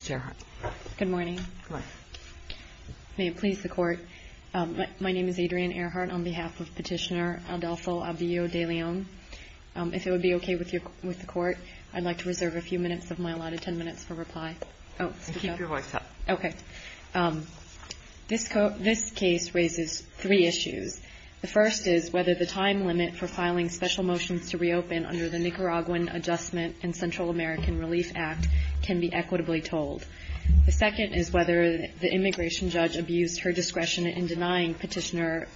This case raises three issues. The first is whether the time limit for filing special motions to reopen under the Nicaraguan Adjustment and Central American Relief Act can be equitably tolled. The second is whether the immigration judge abused her discretion in denying Petitioner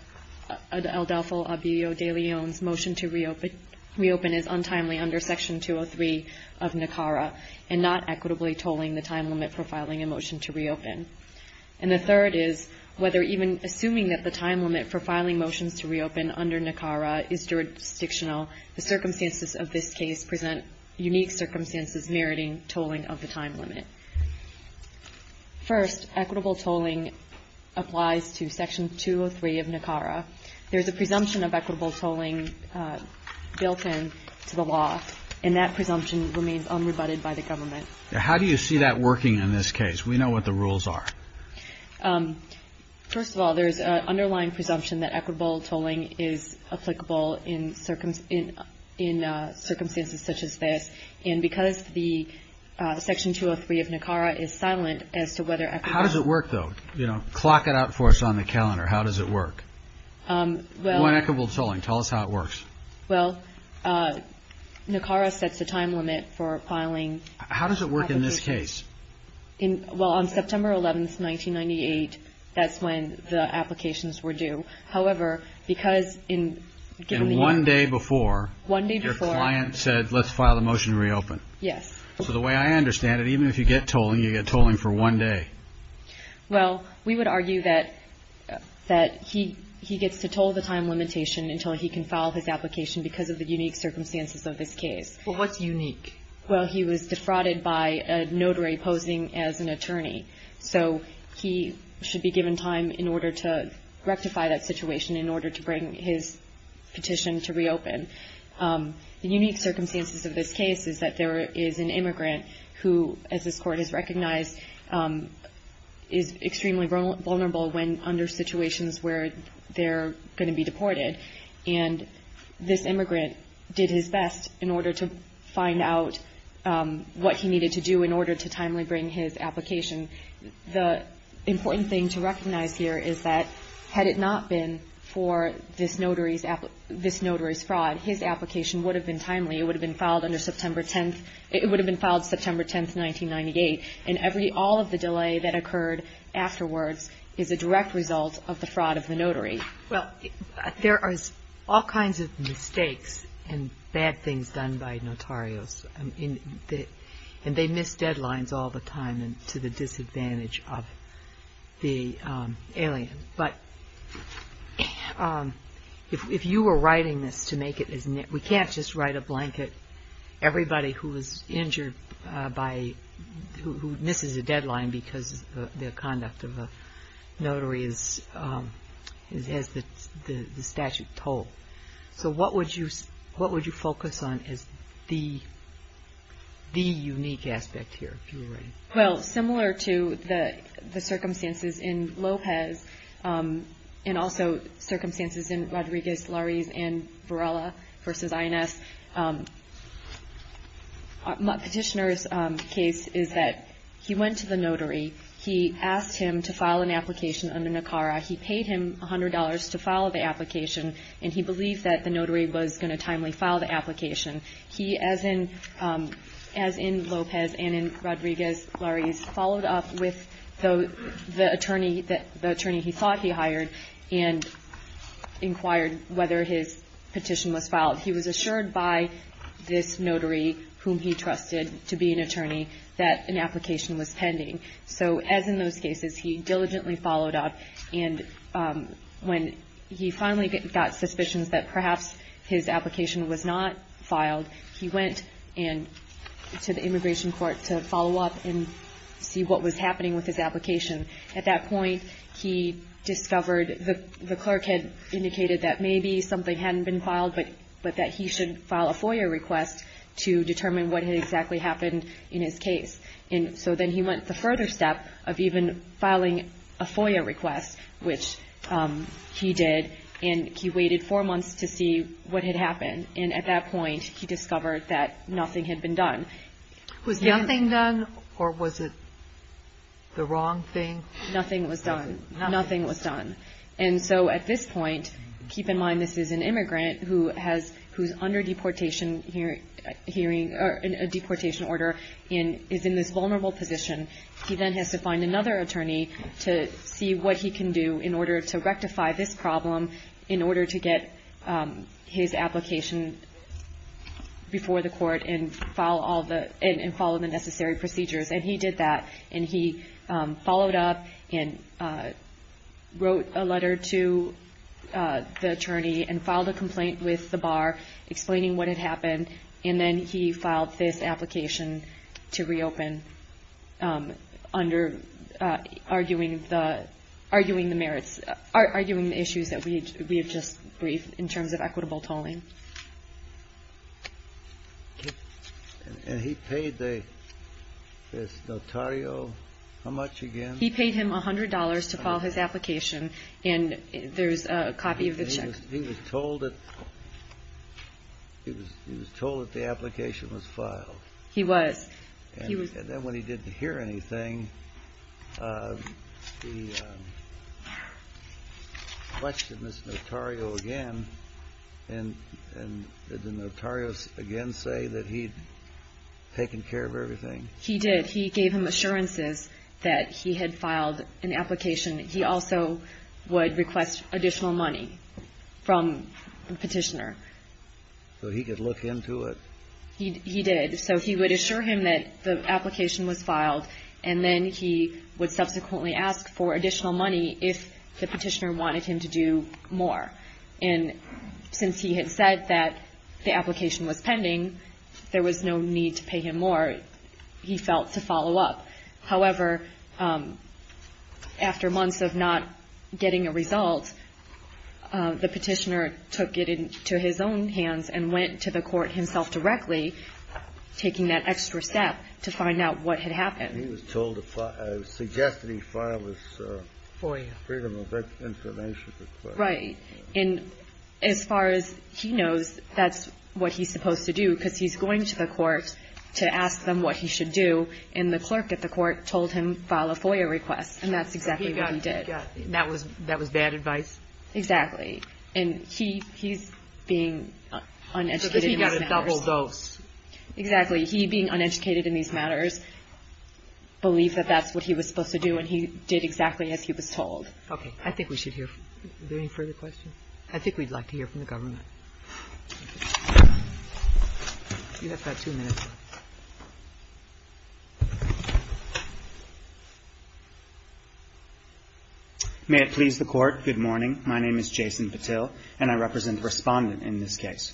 Aldolfo Abillo De Leon's motion to reopen is untimely under Section 203 of NICARA and not equitably tolling the time limit for filing a motion to reopen. And the third is whether even assuming that the time limit for filing motions to reopen under NICARA is jurisdictional, the circumstances of this case present unique circumstances meriting tolling of the time limit. First, equitable tolling applies to Section 203 of NICARA. There's a presumption of equitable tolling built into the law, and that presumption remains unrebutted by the government. How do you see that working in this case? We know what the rules are. First of all, there's an underlying presumption that equitable tolling is applicable in circumstances such as this. And because the Section 203 of NICARA is silent as to whether equitable tolling... How does it work, though? Clock it out for us on the calendar. How does it work? Well... One equitable tolling. Tell us how it works. Well, NICARA sets a time limit for filing... How does it work in this case? Well, on September 11, 1998, that's when the applications were due. However, because in given the... And one day before... One day before... Your client said, let's file a motion to reopen. Yes. So the way I understand it, even if you get tolling, you get tolling for one day. Well, we would argue that he gets to toll the time limitation until he can file his application because of the unique circumstances of this case. Well, what's unique? Well, he was defrauded by a notary posing as an attorney. So he should be given time in order to rectify that situation, in order to bring his petition to reopen. The unique circumstances of this case is that there is an immigrant who, as this court has recognized, is extremely vulnerable when under situations where they're going to be deported. And this immigrant did his best in order to find out what he needed to do in order to And what I'm trying to say here is that had it not been for this notary's fraud, his application would have been timely. It would have been filed September 10, 1998. And all of the delay that occurred afterwards is a direct result of the fraud of the notary. Well, there are all kinds of mistakes and bad things done by notarios. And they miss a million. But if you were writing this to make it, we can't just write a blanket, everybody who was injured by, who misses a deadline because the conduct of a notary has the statute told. So what would you focus on as the unique aspect here, if you were writing? Well, similar to the circumstances in Lopez and also circumstances in Rodriguez, Lurries and Varela v. INS, Petitioner's case is that he went to the notary. He asked him to file an application under NACARA. He paid him $100 to file the application. And he believed that the notary was going to timely file the application. He, as in Lopez and in Rodriguez, Lurries, followed up with the attorney he thought he hired and inquired whether his petition was filed. He was assured by this notary, whom he trusted to be an attorney, that an application was pending. So as in those cases, he diligently followed up. And when he finally got suspicions that perhaps his application was not filed, he went to the immigration court to follow up and see what was happening with his application. At that point, he discovered that the clerk had indicated that maybe something hadn't been filed, but that he should file a FOIA request to determine what had exactly happened in his case. And so then he went the further step of even filing a FOIA request, which he did. And he waited four months to see what had happened. And at that point, he discovered that nothing had been done. Was nothing done, or was it the wrong thing? Nothing was done. Nothing was done. And so at this point, keep in mind this is an immigrant who has – who's under deportation hearing – or a deportation order and is in this vulnerable position. He then has to find another attorney to see what he can do in order to rectify this problem in order to get his application before the court and file all the – and follow the necessary procedures. And he did that. And he followed up and wrote a letter to the attorney and filed a complaint with the bar explaining what had happened. And then he filed this application to reopen under arguing the merits – arguing the issues that we have just briefed in terms of equitable tolling. And he paid the notario how much again? He paid him $100 to file his application. And there's a copy of the check. He was told that – he was told that the application was filed. He was. And then when he didn't hear anything, he questioned this notario again. And did the notario again say that he'd taken care of everything? He did. He gave him assurances that he had filed an application. He also would request additional money from the petitioner. So he could look into it? He did. So he would assure him that the application was filed. And then he would subsequently ask for additional money if the petitioner wanted him to do more. And since he had said that the application was pending, there was no need to pay him more, he felt, to follow up. However, after months of not getting a result, the petitioner took it into his own hands and went to the court himself directly, taking that extra step to find out what had happened. He was told to file – suggested he file his Freedom of Information request. Right. And as far as he knows, that's what he's supposed to do, because he's going to the court to ask them what he should do, and the clerk at the court told him file a FOIA request. And that's exactly what he did. So he got – that was bad advice? Exactly. And he's being uneducated in these matters. So he got a double dose. Exactly. He, being uneducated in these matters, believed that that's what he was supposed to do, and he did exactly as he was told. Okay. I think we should hear – are there any further questions? I think we'd like to hear from the government. You have about two minutes. May it please the Court, good morning. My name is Jason Patil, and I represent the Respondent in this case.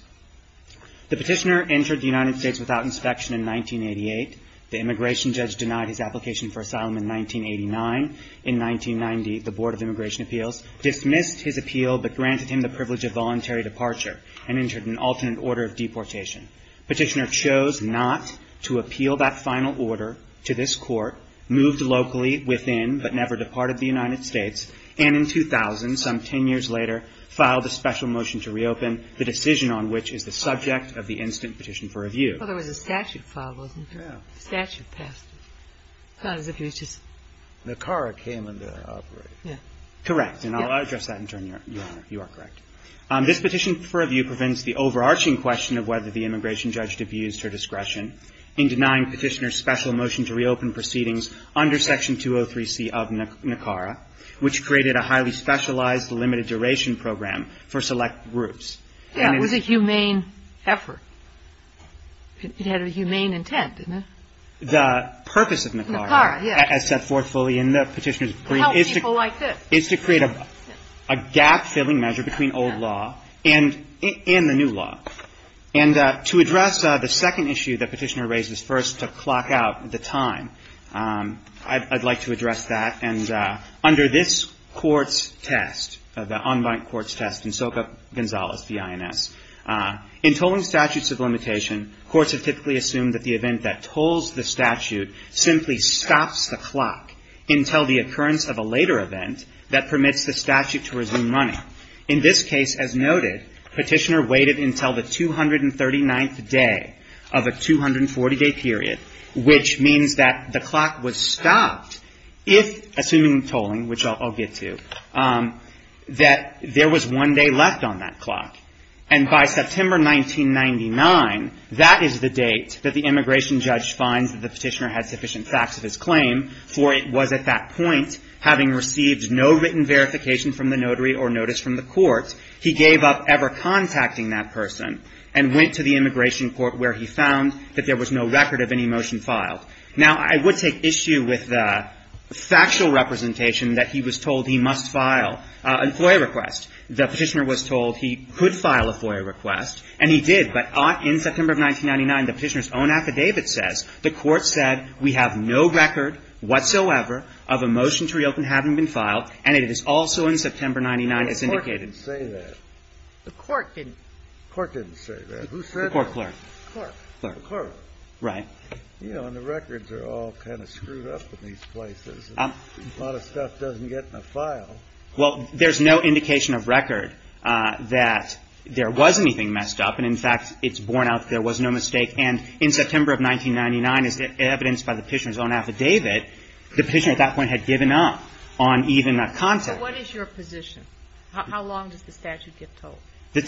The petitioner entered the United States without inspection in 1988. The immigration judge denied his application for asylum in 1989. In 1990, the Board of Immigration Appeals dismissed his appeal but granted him the privilege of voluntary departure and entered an alternate order of deportation. Petitioner chose not to appeal that final order to this Court, moved locally within but never departed the United States, and in 2000, some 10 years later, filed a special motion to reopen, the decision on which is the subject of the instant petition for review. Well, there was a statute filed, wasn't there? Yeah. The statute passed it. It's not as if it was just – The CARA came under operation. Correct. And I'll address that in turn, Your Honor. You are correct. This petition for review prevents the overarching question of whether the immigration judge abused her discretion in denying petitioner's special motion to reopen proceedings under Section 203C of NACARA, which created a highly specialized, limited-duration program for select groups. Yeah, it was a humane effort. It had a humane intent, didn't it? The purpose of NACARA, as set forth fully in the petitioner's brief, is to Well, I could. is to create a gap-filling measure between old law and the new law. And to address the second issue that Petitioner raises first, to clock out the time, I'd like to address that. And under this Court's test, the unbiased Court's test in Soka Gonzalez v. INS, in tolling statutes of limitation, courts have typically assumed that the event that tolls the statute simply stops the clock until the occurrence of a later event that permits the statute to resume running. In this case, as noted, Petitioner waited until the 239th day of a 240-day period, which means that the clock was stopped if, assuming tolling, which I'll get to, that there was one day left on that clock. And by September 1999, that is the date that the immigration judge finds that the petitioner had sufficient facts of his claim, for it was at that point, having received no written verification from the notary or notice from the court, he gave up ever contacting that person and went to the immigration court, where he found that there was no record of any motion filed. Now, I would take issue with the factual representation that he was told he must file a FOIA request. The petitioner was told he could file a FOIA request, and he did. But in September of 1999, the petitioner's own affidavit says the court said, we have no record whatsoever of a motion to reopen having been filed, and it is also in September 1999, as indicated. Kennedy, the Court didn't say that. The Court didn't. The Court didn't say that. Who said that? The court clerk. Clerk. Clerk. Clerk. Clerk. Right. You know, and the records are all kind of screwed up in these places, and a lot of stuff doesn't get in a file. Well, there's no indication of record that there was anything messed up. And, in fact, it's borne out there was no mistake. And in September of 1999, as evidenced by the petitioner's own affidavit, the petitioner at that point had given up on even that content. So what is your position? How long does the statute get told? The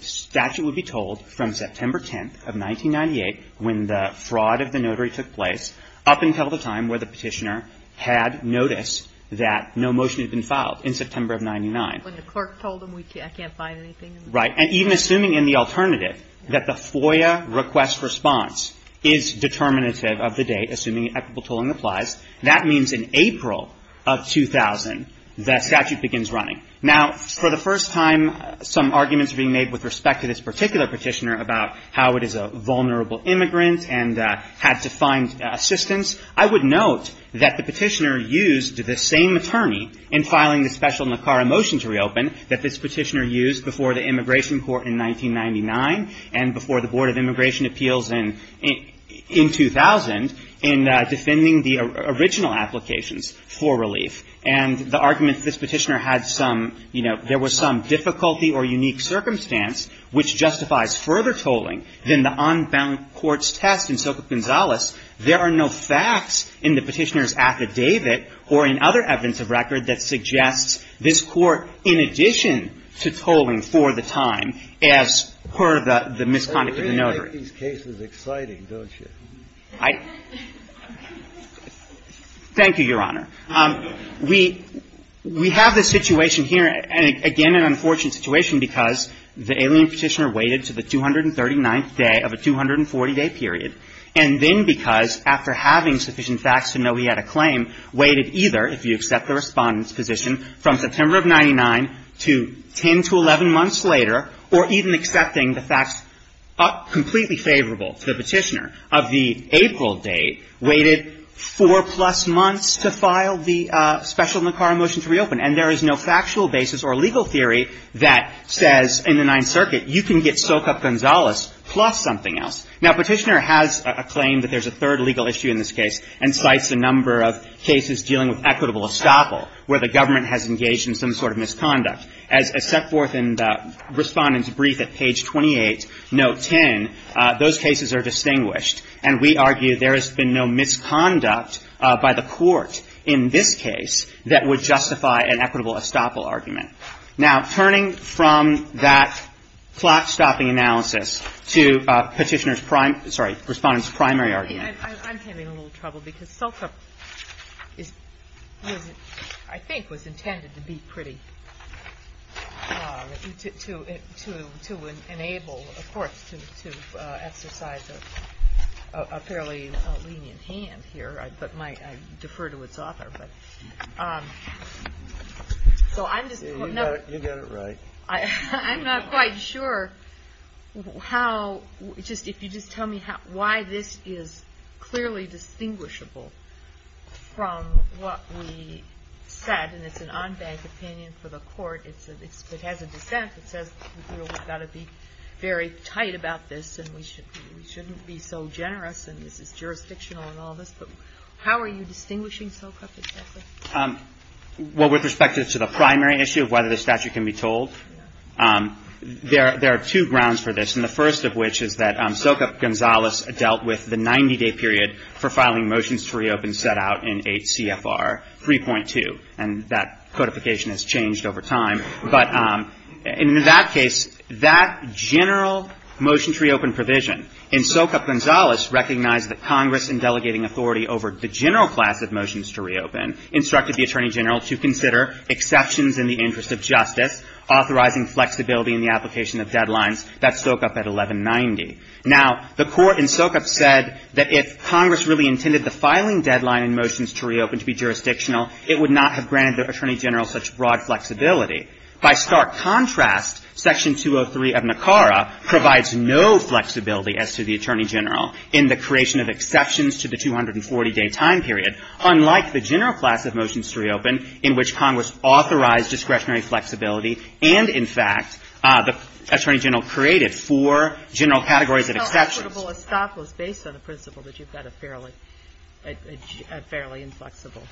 statute would be told from September 10th of 1998, when the fraud of the notary took place, up until the time where the petitioner had noticed that no motion had been filed in September of 99. When the clerk told him, I can't find anything. Right. And even assuming in the alternative that the FOIA request response is determinative of the date, assuming equitable tolling applies, that means in April of 2000, the statute begins running. Now, for the first time, some arguments are being made with respect to this particular petitioner about how it is a vulnerable immigrant and had to find assistance. I would note that the petitioner used the same attorney in filing the special NACARA motion to reopen that this petitioner used before the immigration court in 1999 and before the Board of Immigration Appeals in 2000 in defending the original applications for relief. And the argument that this petitioner had some, you know, there was some difficulty or unique circumstance which justifies further tolling than the unbound courts test in Soka Gonzales, there are no facts in the petitioner's case. And so, in addition to tolling for the time, as per the misconduct of the notary. Kennedy's case is exciting, don't you? I — thank you, Your Honor. We have the situation here, and again, an unfortunate situation, because the alien petitioner waited to the 239th day of a 240-day period, and then because, after having sufficient facts to know he had a claim, waited either, if you accept the Respondent's position, from September of 99 to 10 to 11 months later, or even accepting the facts completely favorable to the petitioner, of the April date, waited four-plus months to file the special NACARA motion to reopen. And there is no factual basis or legal theory that says, in the Ninth Circuit, you can get Soka Gonzales plus something else. Now, Petitioner has a claim that there's a third legal issue in this case, and cites a number of cases dealing with equitable estoppel, where the government has engaged in some sort of misconduct. As set forth in the Respondent's brief at page 28, note 10, those cases are distinguished, and we argue there has been no misconduct by the Court in this case that would justify an equitable estoppel argument. Now, turning from that plot-stopping analysis to Petitioner's prime — sorry, Respondent's primary argument. I'm having a little trouble, because Soka, I think, was intended to be pretty — to enable, of course, to exercise a fairly lenient hand here, but I defer to its author. So I'm just — You got it right. I'm not quite sure how — just — if you just tell me how — why this is clearly distinguishable from what we said, and it's an en banc opinion for the Court. It's — it has a dissent that says, you know, we've got to be very tight about this, and we shouldn't be so generous, and this is jurisdictional and all this. But how are you distinguishing Soka from Petitioner? Well, with respect to the primary issue of whether the statute can be told, there are two grounds for this, and the first of which is that Soka Gonzales dealt with the 90-day period for filing motions to reopen set out in 8 CFR 3.2, and that codification has changed over time. But in that case, that general motion to reopen provision in Soka Gonzales recognized that Congress, in delegating authority over the general class of motions to reopen, instructed the Attorney General to consider exceptions in the interest of justice, authorizing flexibility in the application of deadlines. That's Soka at 1190. Now, the Court in Soka said that if Congress really intended the filing deadline in motions to reopen to be jurisdictional, it would not have granted the Attorney General such broad flexibility. By stark contrast, Section 203 of NACARA provides no flexibility as to the Attorney General in the creation of exceptions to the 240-day time period, unlike the general class of motions to reopen, in which Congress authorized discretionary flexibility and, in fact, the Attorney General created four general categories of exceptions. But how equitable a stop was based on the principle that you've got a fairly inflexible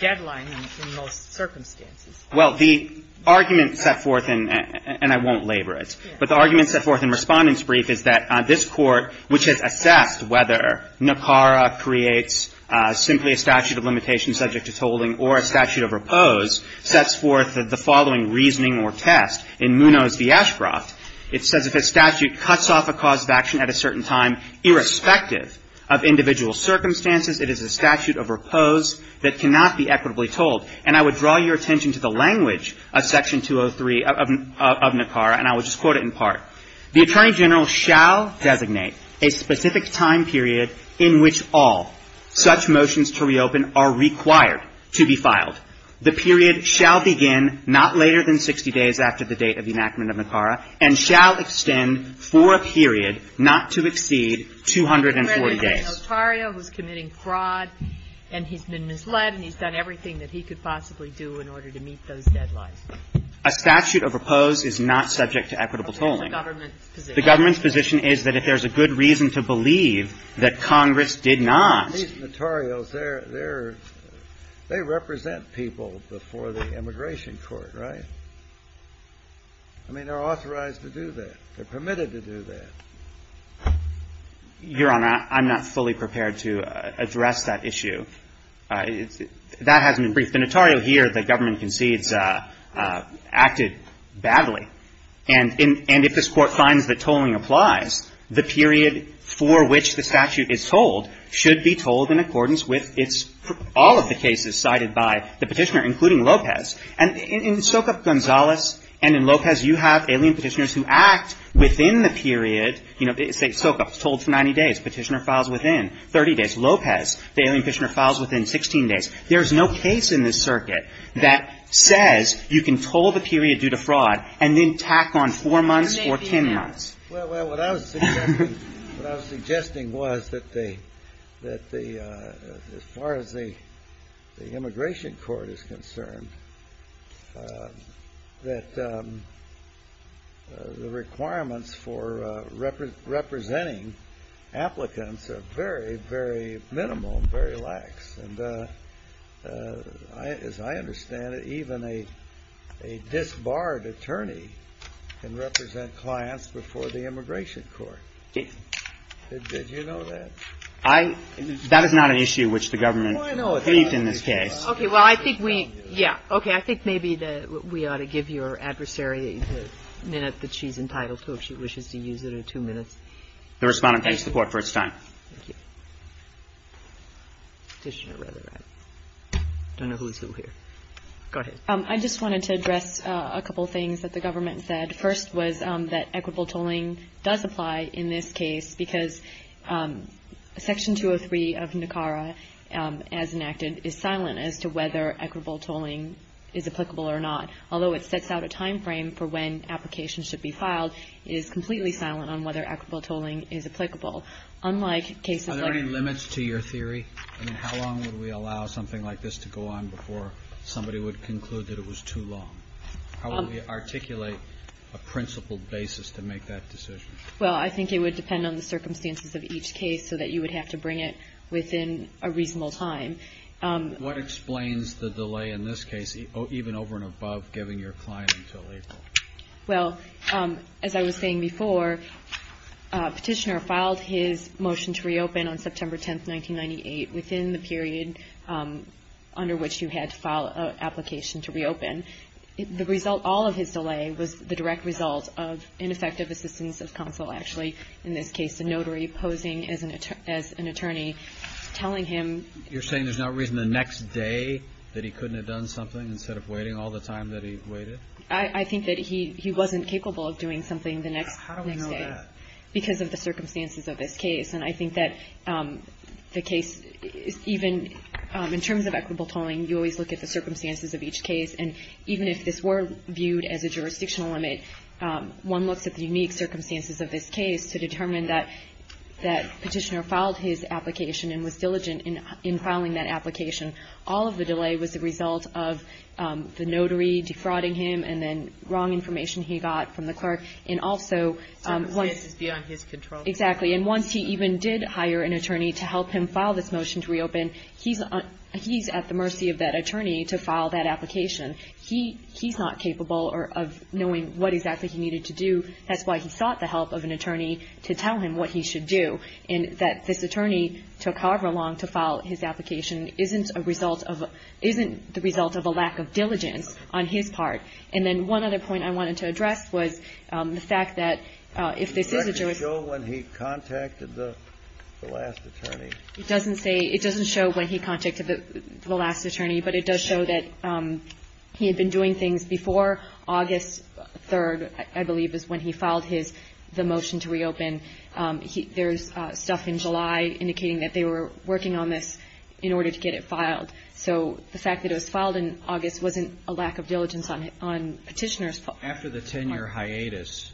deadline in most circumstances? Well, the argument set forth in, and I won't labor it, but the argument set forth in Respondent's brief is that this Court, which has assessed whether NACARA creates simply a statute of limitation subject to tolling or a statute of repose, sets forth the following reasoning or test. In Munoz v. Ashcroft, it says if a statute cuts off a cause of action at a certain time, irrespective of individual circumstances, it is a statute of repose that cannot be equitably told. And I would draw your attention to the language of Section 203 of NACARA, and I will just quote it in part. The Attorney General shall designate a specific time period in which all such motions to reopen are required to be filed. The period shall begin not later than 60 days after the date of the enactment of NACARA and shall extend for a period not to exceed 240 days. But you're referring to Notario, who's committing fraud, and he's been misled, and he's done everything that he could possibly do in order to meet those deadlines. A statute of repose is not subject to equitable tolling. The government's position is that if there's a good reason to believe that Congress did not. These Notarios, they're – they represent people before the immigration court, right? I mean, they're authorized to do that. They're permitted to do that. Your Honor, I'm not fully prepared to address that issue. That has been briefed. The Notario here, the government concedes, acted badly. And if this Court finds that tolling applies, the period for which the statute is told should be told in accordance with its – all of the cases cited by the Petitioner, including Lopez. And in Sokup, Gonzalez, and in Lopez, you have alien Petitioners who act within the period, you know, say Sokup, told for 90 days, Petitioner files within 30 days. Lopez, the alien Petitioner files within 16 days. There's no case in this circuit that says you can toll the period due to fraud and then tack on four months or 10 months. Well, what I was suggesting was that the – as far as the immigration court is concerned, that the requirements for representing applicants are very, very minimal and very lax. And as I understand it, even a disbarred attorney can represent clients before the immigration court. Did you know that? I – that is not an issue which the government briefed in this case. Okay. Well, I think we – yeah. Okay. I think maybe we ought to give your adversary the minute that she's entitled to, if she wishes to use it, or two minutes. The Respondent thanks the Court for its time. Thank you. Petitioner, rather, right? I don't know who is who here. Go ahead. I just wanted to address a couple things that the government said. First was that equitable tolling does apply in this case because Section 203 of NACARA, as enacted, is silent as to whether equitable tolling is applicable or not, although it sets out a timeframe for when applications should be filed. It is completely silent on whether equitable tolling is applicable. Unlike cases like – Are there any limits to your theory? I mean, how long would we allow something like this to go on before somebody would conclude that it was too long? How would we articulate a principled basis to make that decision? Well, I think it would depend on the circumstances of each case so that you would have to bring it within a reasonable time. What explains the delay in this case, even over and above giving your client until April? Well, as I was saying before, Petitioner filed his motion to reopen on September 10th, 1998, within the period under which you had to file an application to reopen. The result – all of his delay was the direct result of ineffective assistance of counsel, actually, in this case a notary posing as an attorney, telling him – You're saying there's no reason the next day that he couldn't have done something instead of waiting all the time that he waited? I think that he wasn't capable of doing something the next day. How do we know that? Because of the circumstances of this case. And I think that the case – even in terms of equitable tolling, you always look at the circumstances of each case. And even if this were viewed as a jurisdictional limit, one looks at the unique circumstances of this case to determine that Petitioner filed his application and was diligent in filing that application. All of the delay was the result of the notary defrauding him and then wrong information he got from the clerk. And also – Circumstances beyond his control. Exactly. And once he even did hire an attorney to help him file this motion to reopen, he's at the mercy of that attorney to file that application. He's not capable of knowing what exactly he needed to do. That's why he sought the help of an attorney to tell him what he should do. And that this attorney took however long to file his application isn't a result of – isn't the result of a lack of diligence on his part. And then one other point I wanted to address was the fact that if this is a – Does the record show when he contacted the last attorney? It doesn't say – it doesn't show when he contacted the last attorney, but it does show that he had been doing things before August 3rd, I believe, is when he filed his – the motion to reopen. There's stuff in July indicating that they were working on this in order to get it filed. So the fact that it was filed in August wasn't a lack of diligence on petitioner's part. After the 10-year hiatus,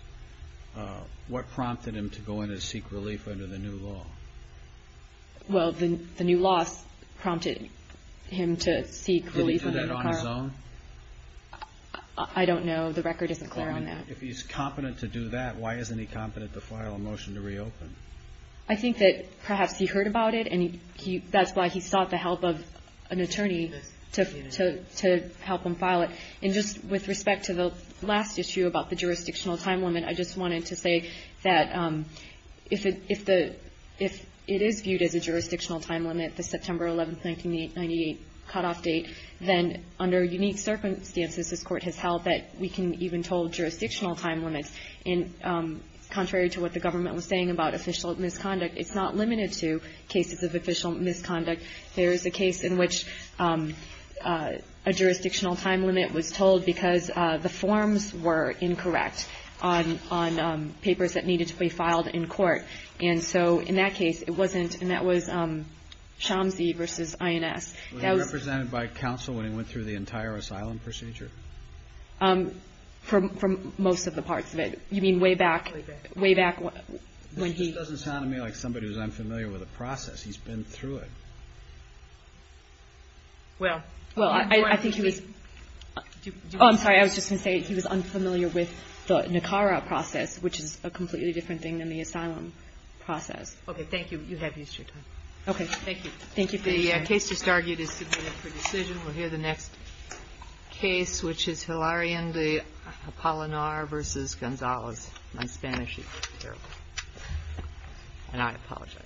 what prompted him to go in and seek relief under the new law? Well, the new law prompted him to seek relief under the current – Could he do that on his own? I don't know. The record isn't clear on that. If he's competent to do that, why isn't he competent to file a motion to reopen? I think that perhaps he heard about it, and that's why he sought the help of an attorney to help him file it. And just with respect to the last issue about the jurisdictional time limit, I just wanted to say that if it is viewed as a jurisdictional time limit, the September 11, 1998, cutoff date, then under unique circumstances, this Court has held that we can even told jurisdictional time limits. And contrary to what the government was saying about official misconduct, it's not limited to cases of official misconduct. There is a case in which a jurisdictional time limit was told because the forms were incorrect on – on papers that needed to be filed in court. And so in that case, it wasn't – and that was Chomsky v. INS. Was he represented by counsel when he went through the entire asylum procedure? For most of the parts of it. You mean way back – way back when he – This just doesn't sound to me like somebody who's unfamiliar with the process. He's been through it. Well, I think he was – oh, I'm sorry. I was just going to say he was unfamiliar with the Nicara process, which is a completely different thing than the asylum process. Okay. You have used your time. Okay. Thank you. Thank you for your time. The case just argued is submitted for decision. We'll hear the next case, which is Hilarion v. Apollonar v. Gonzalez. My Spanish is terrible, and I apologize.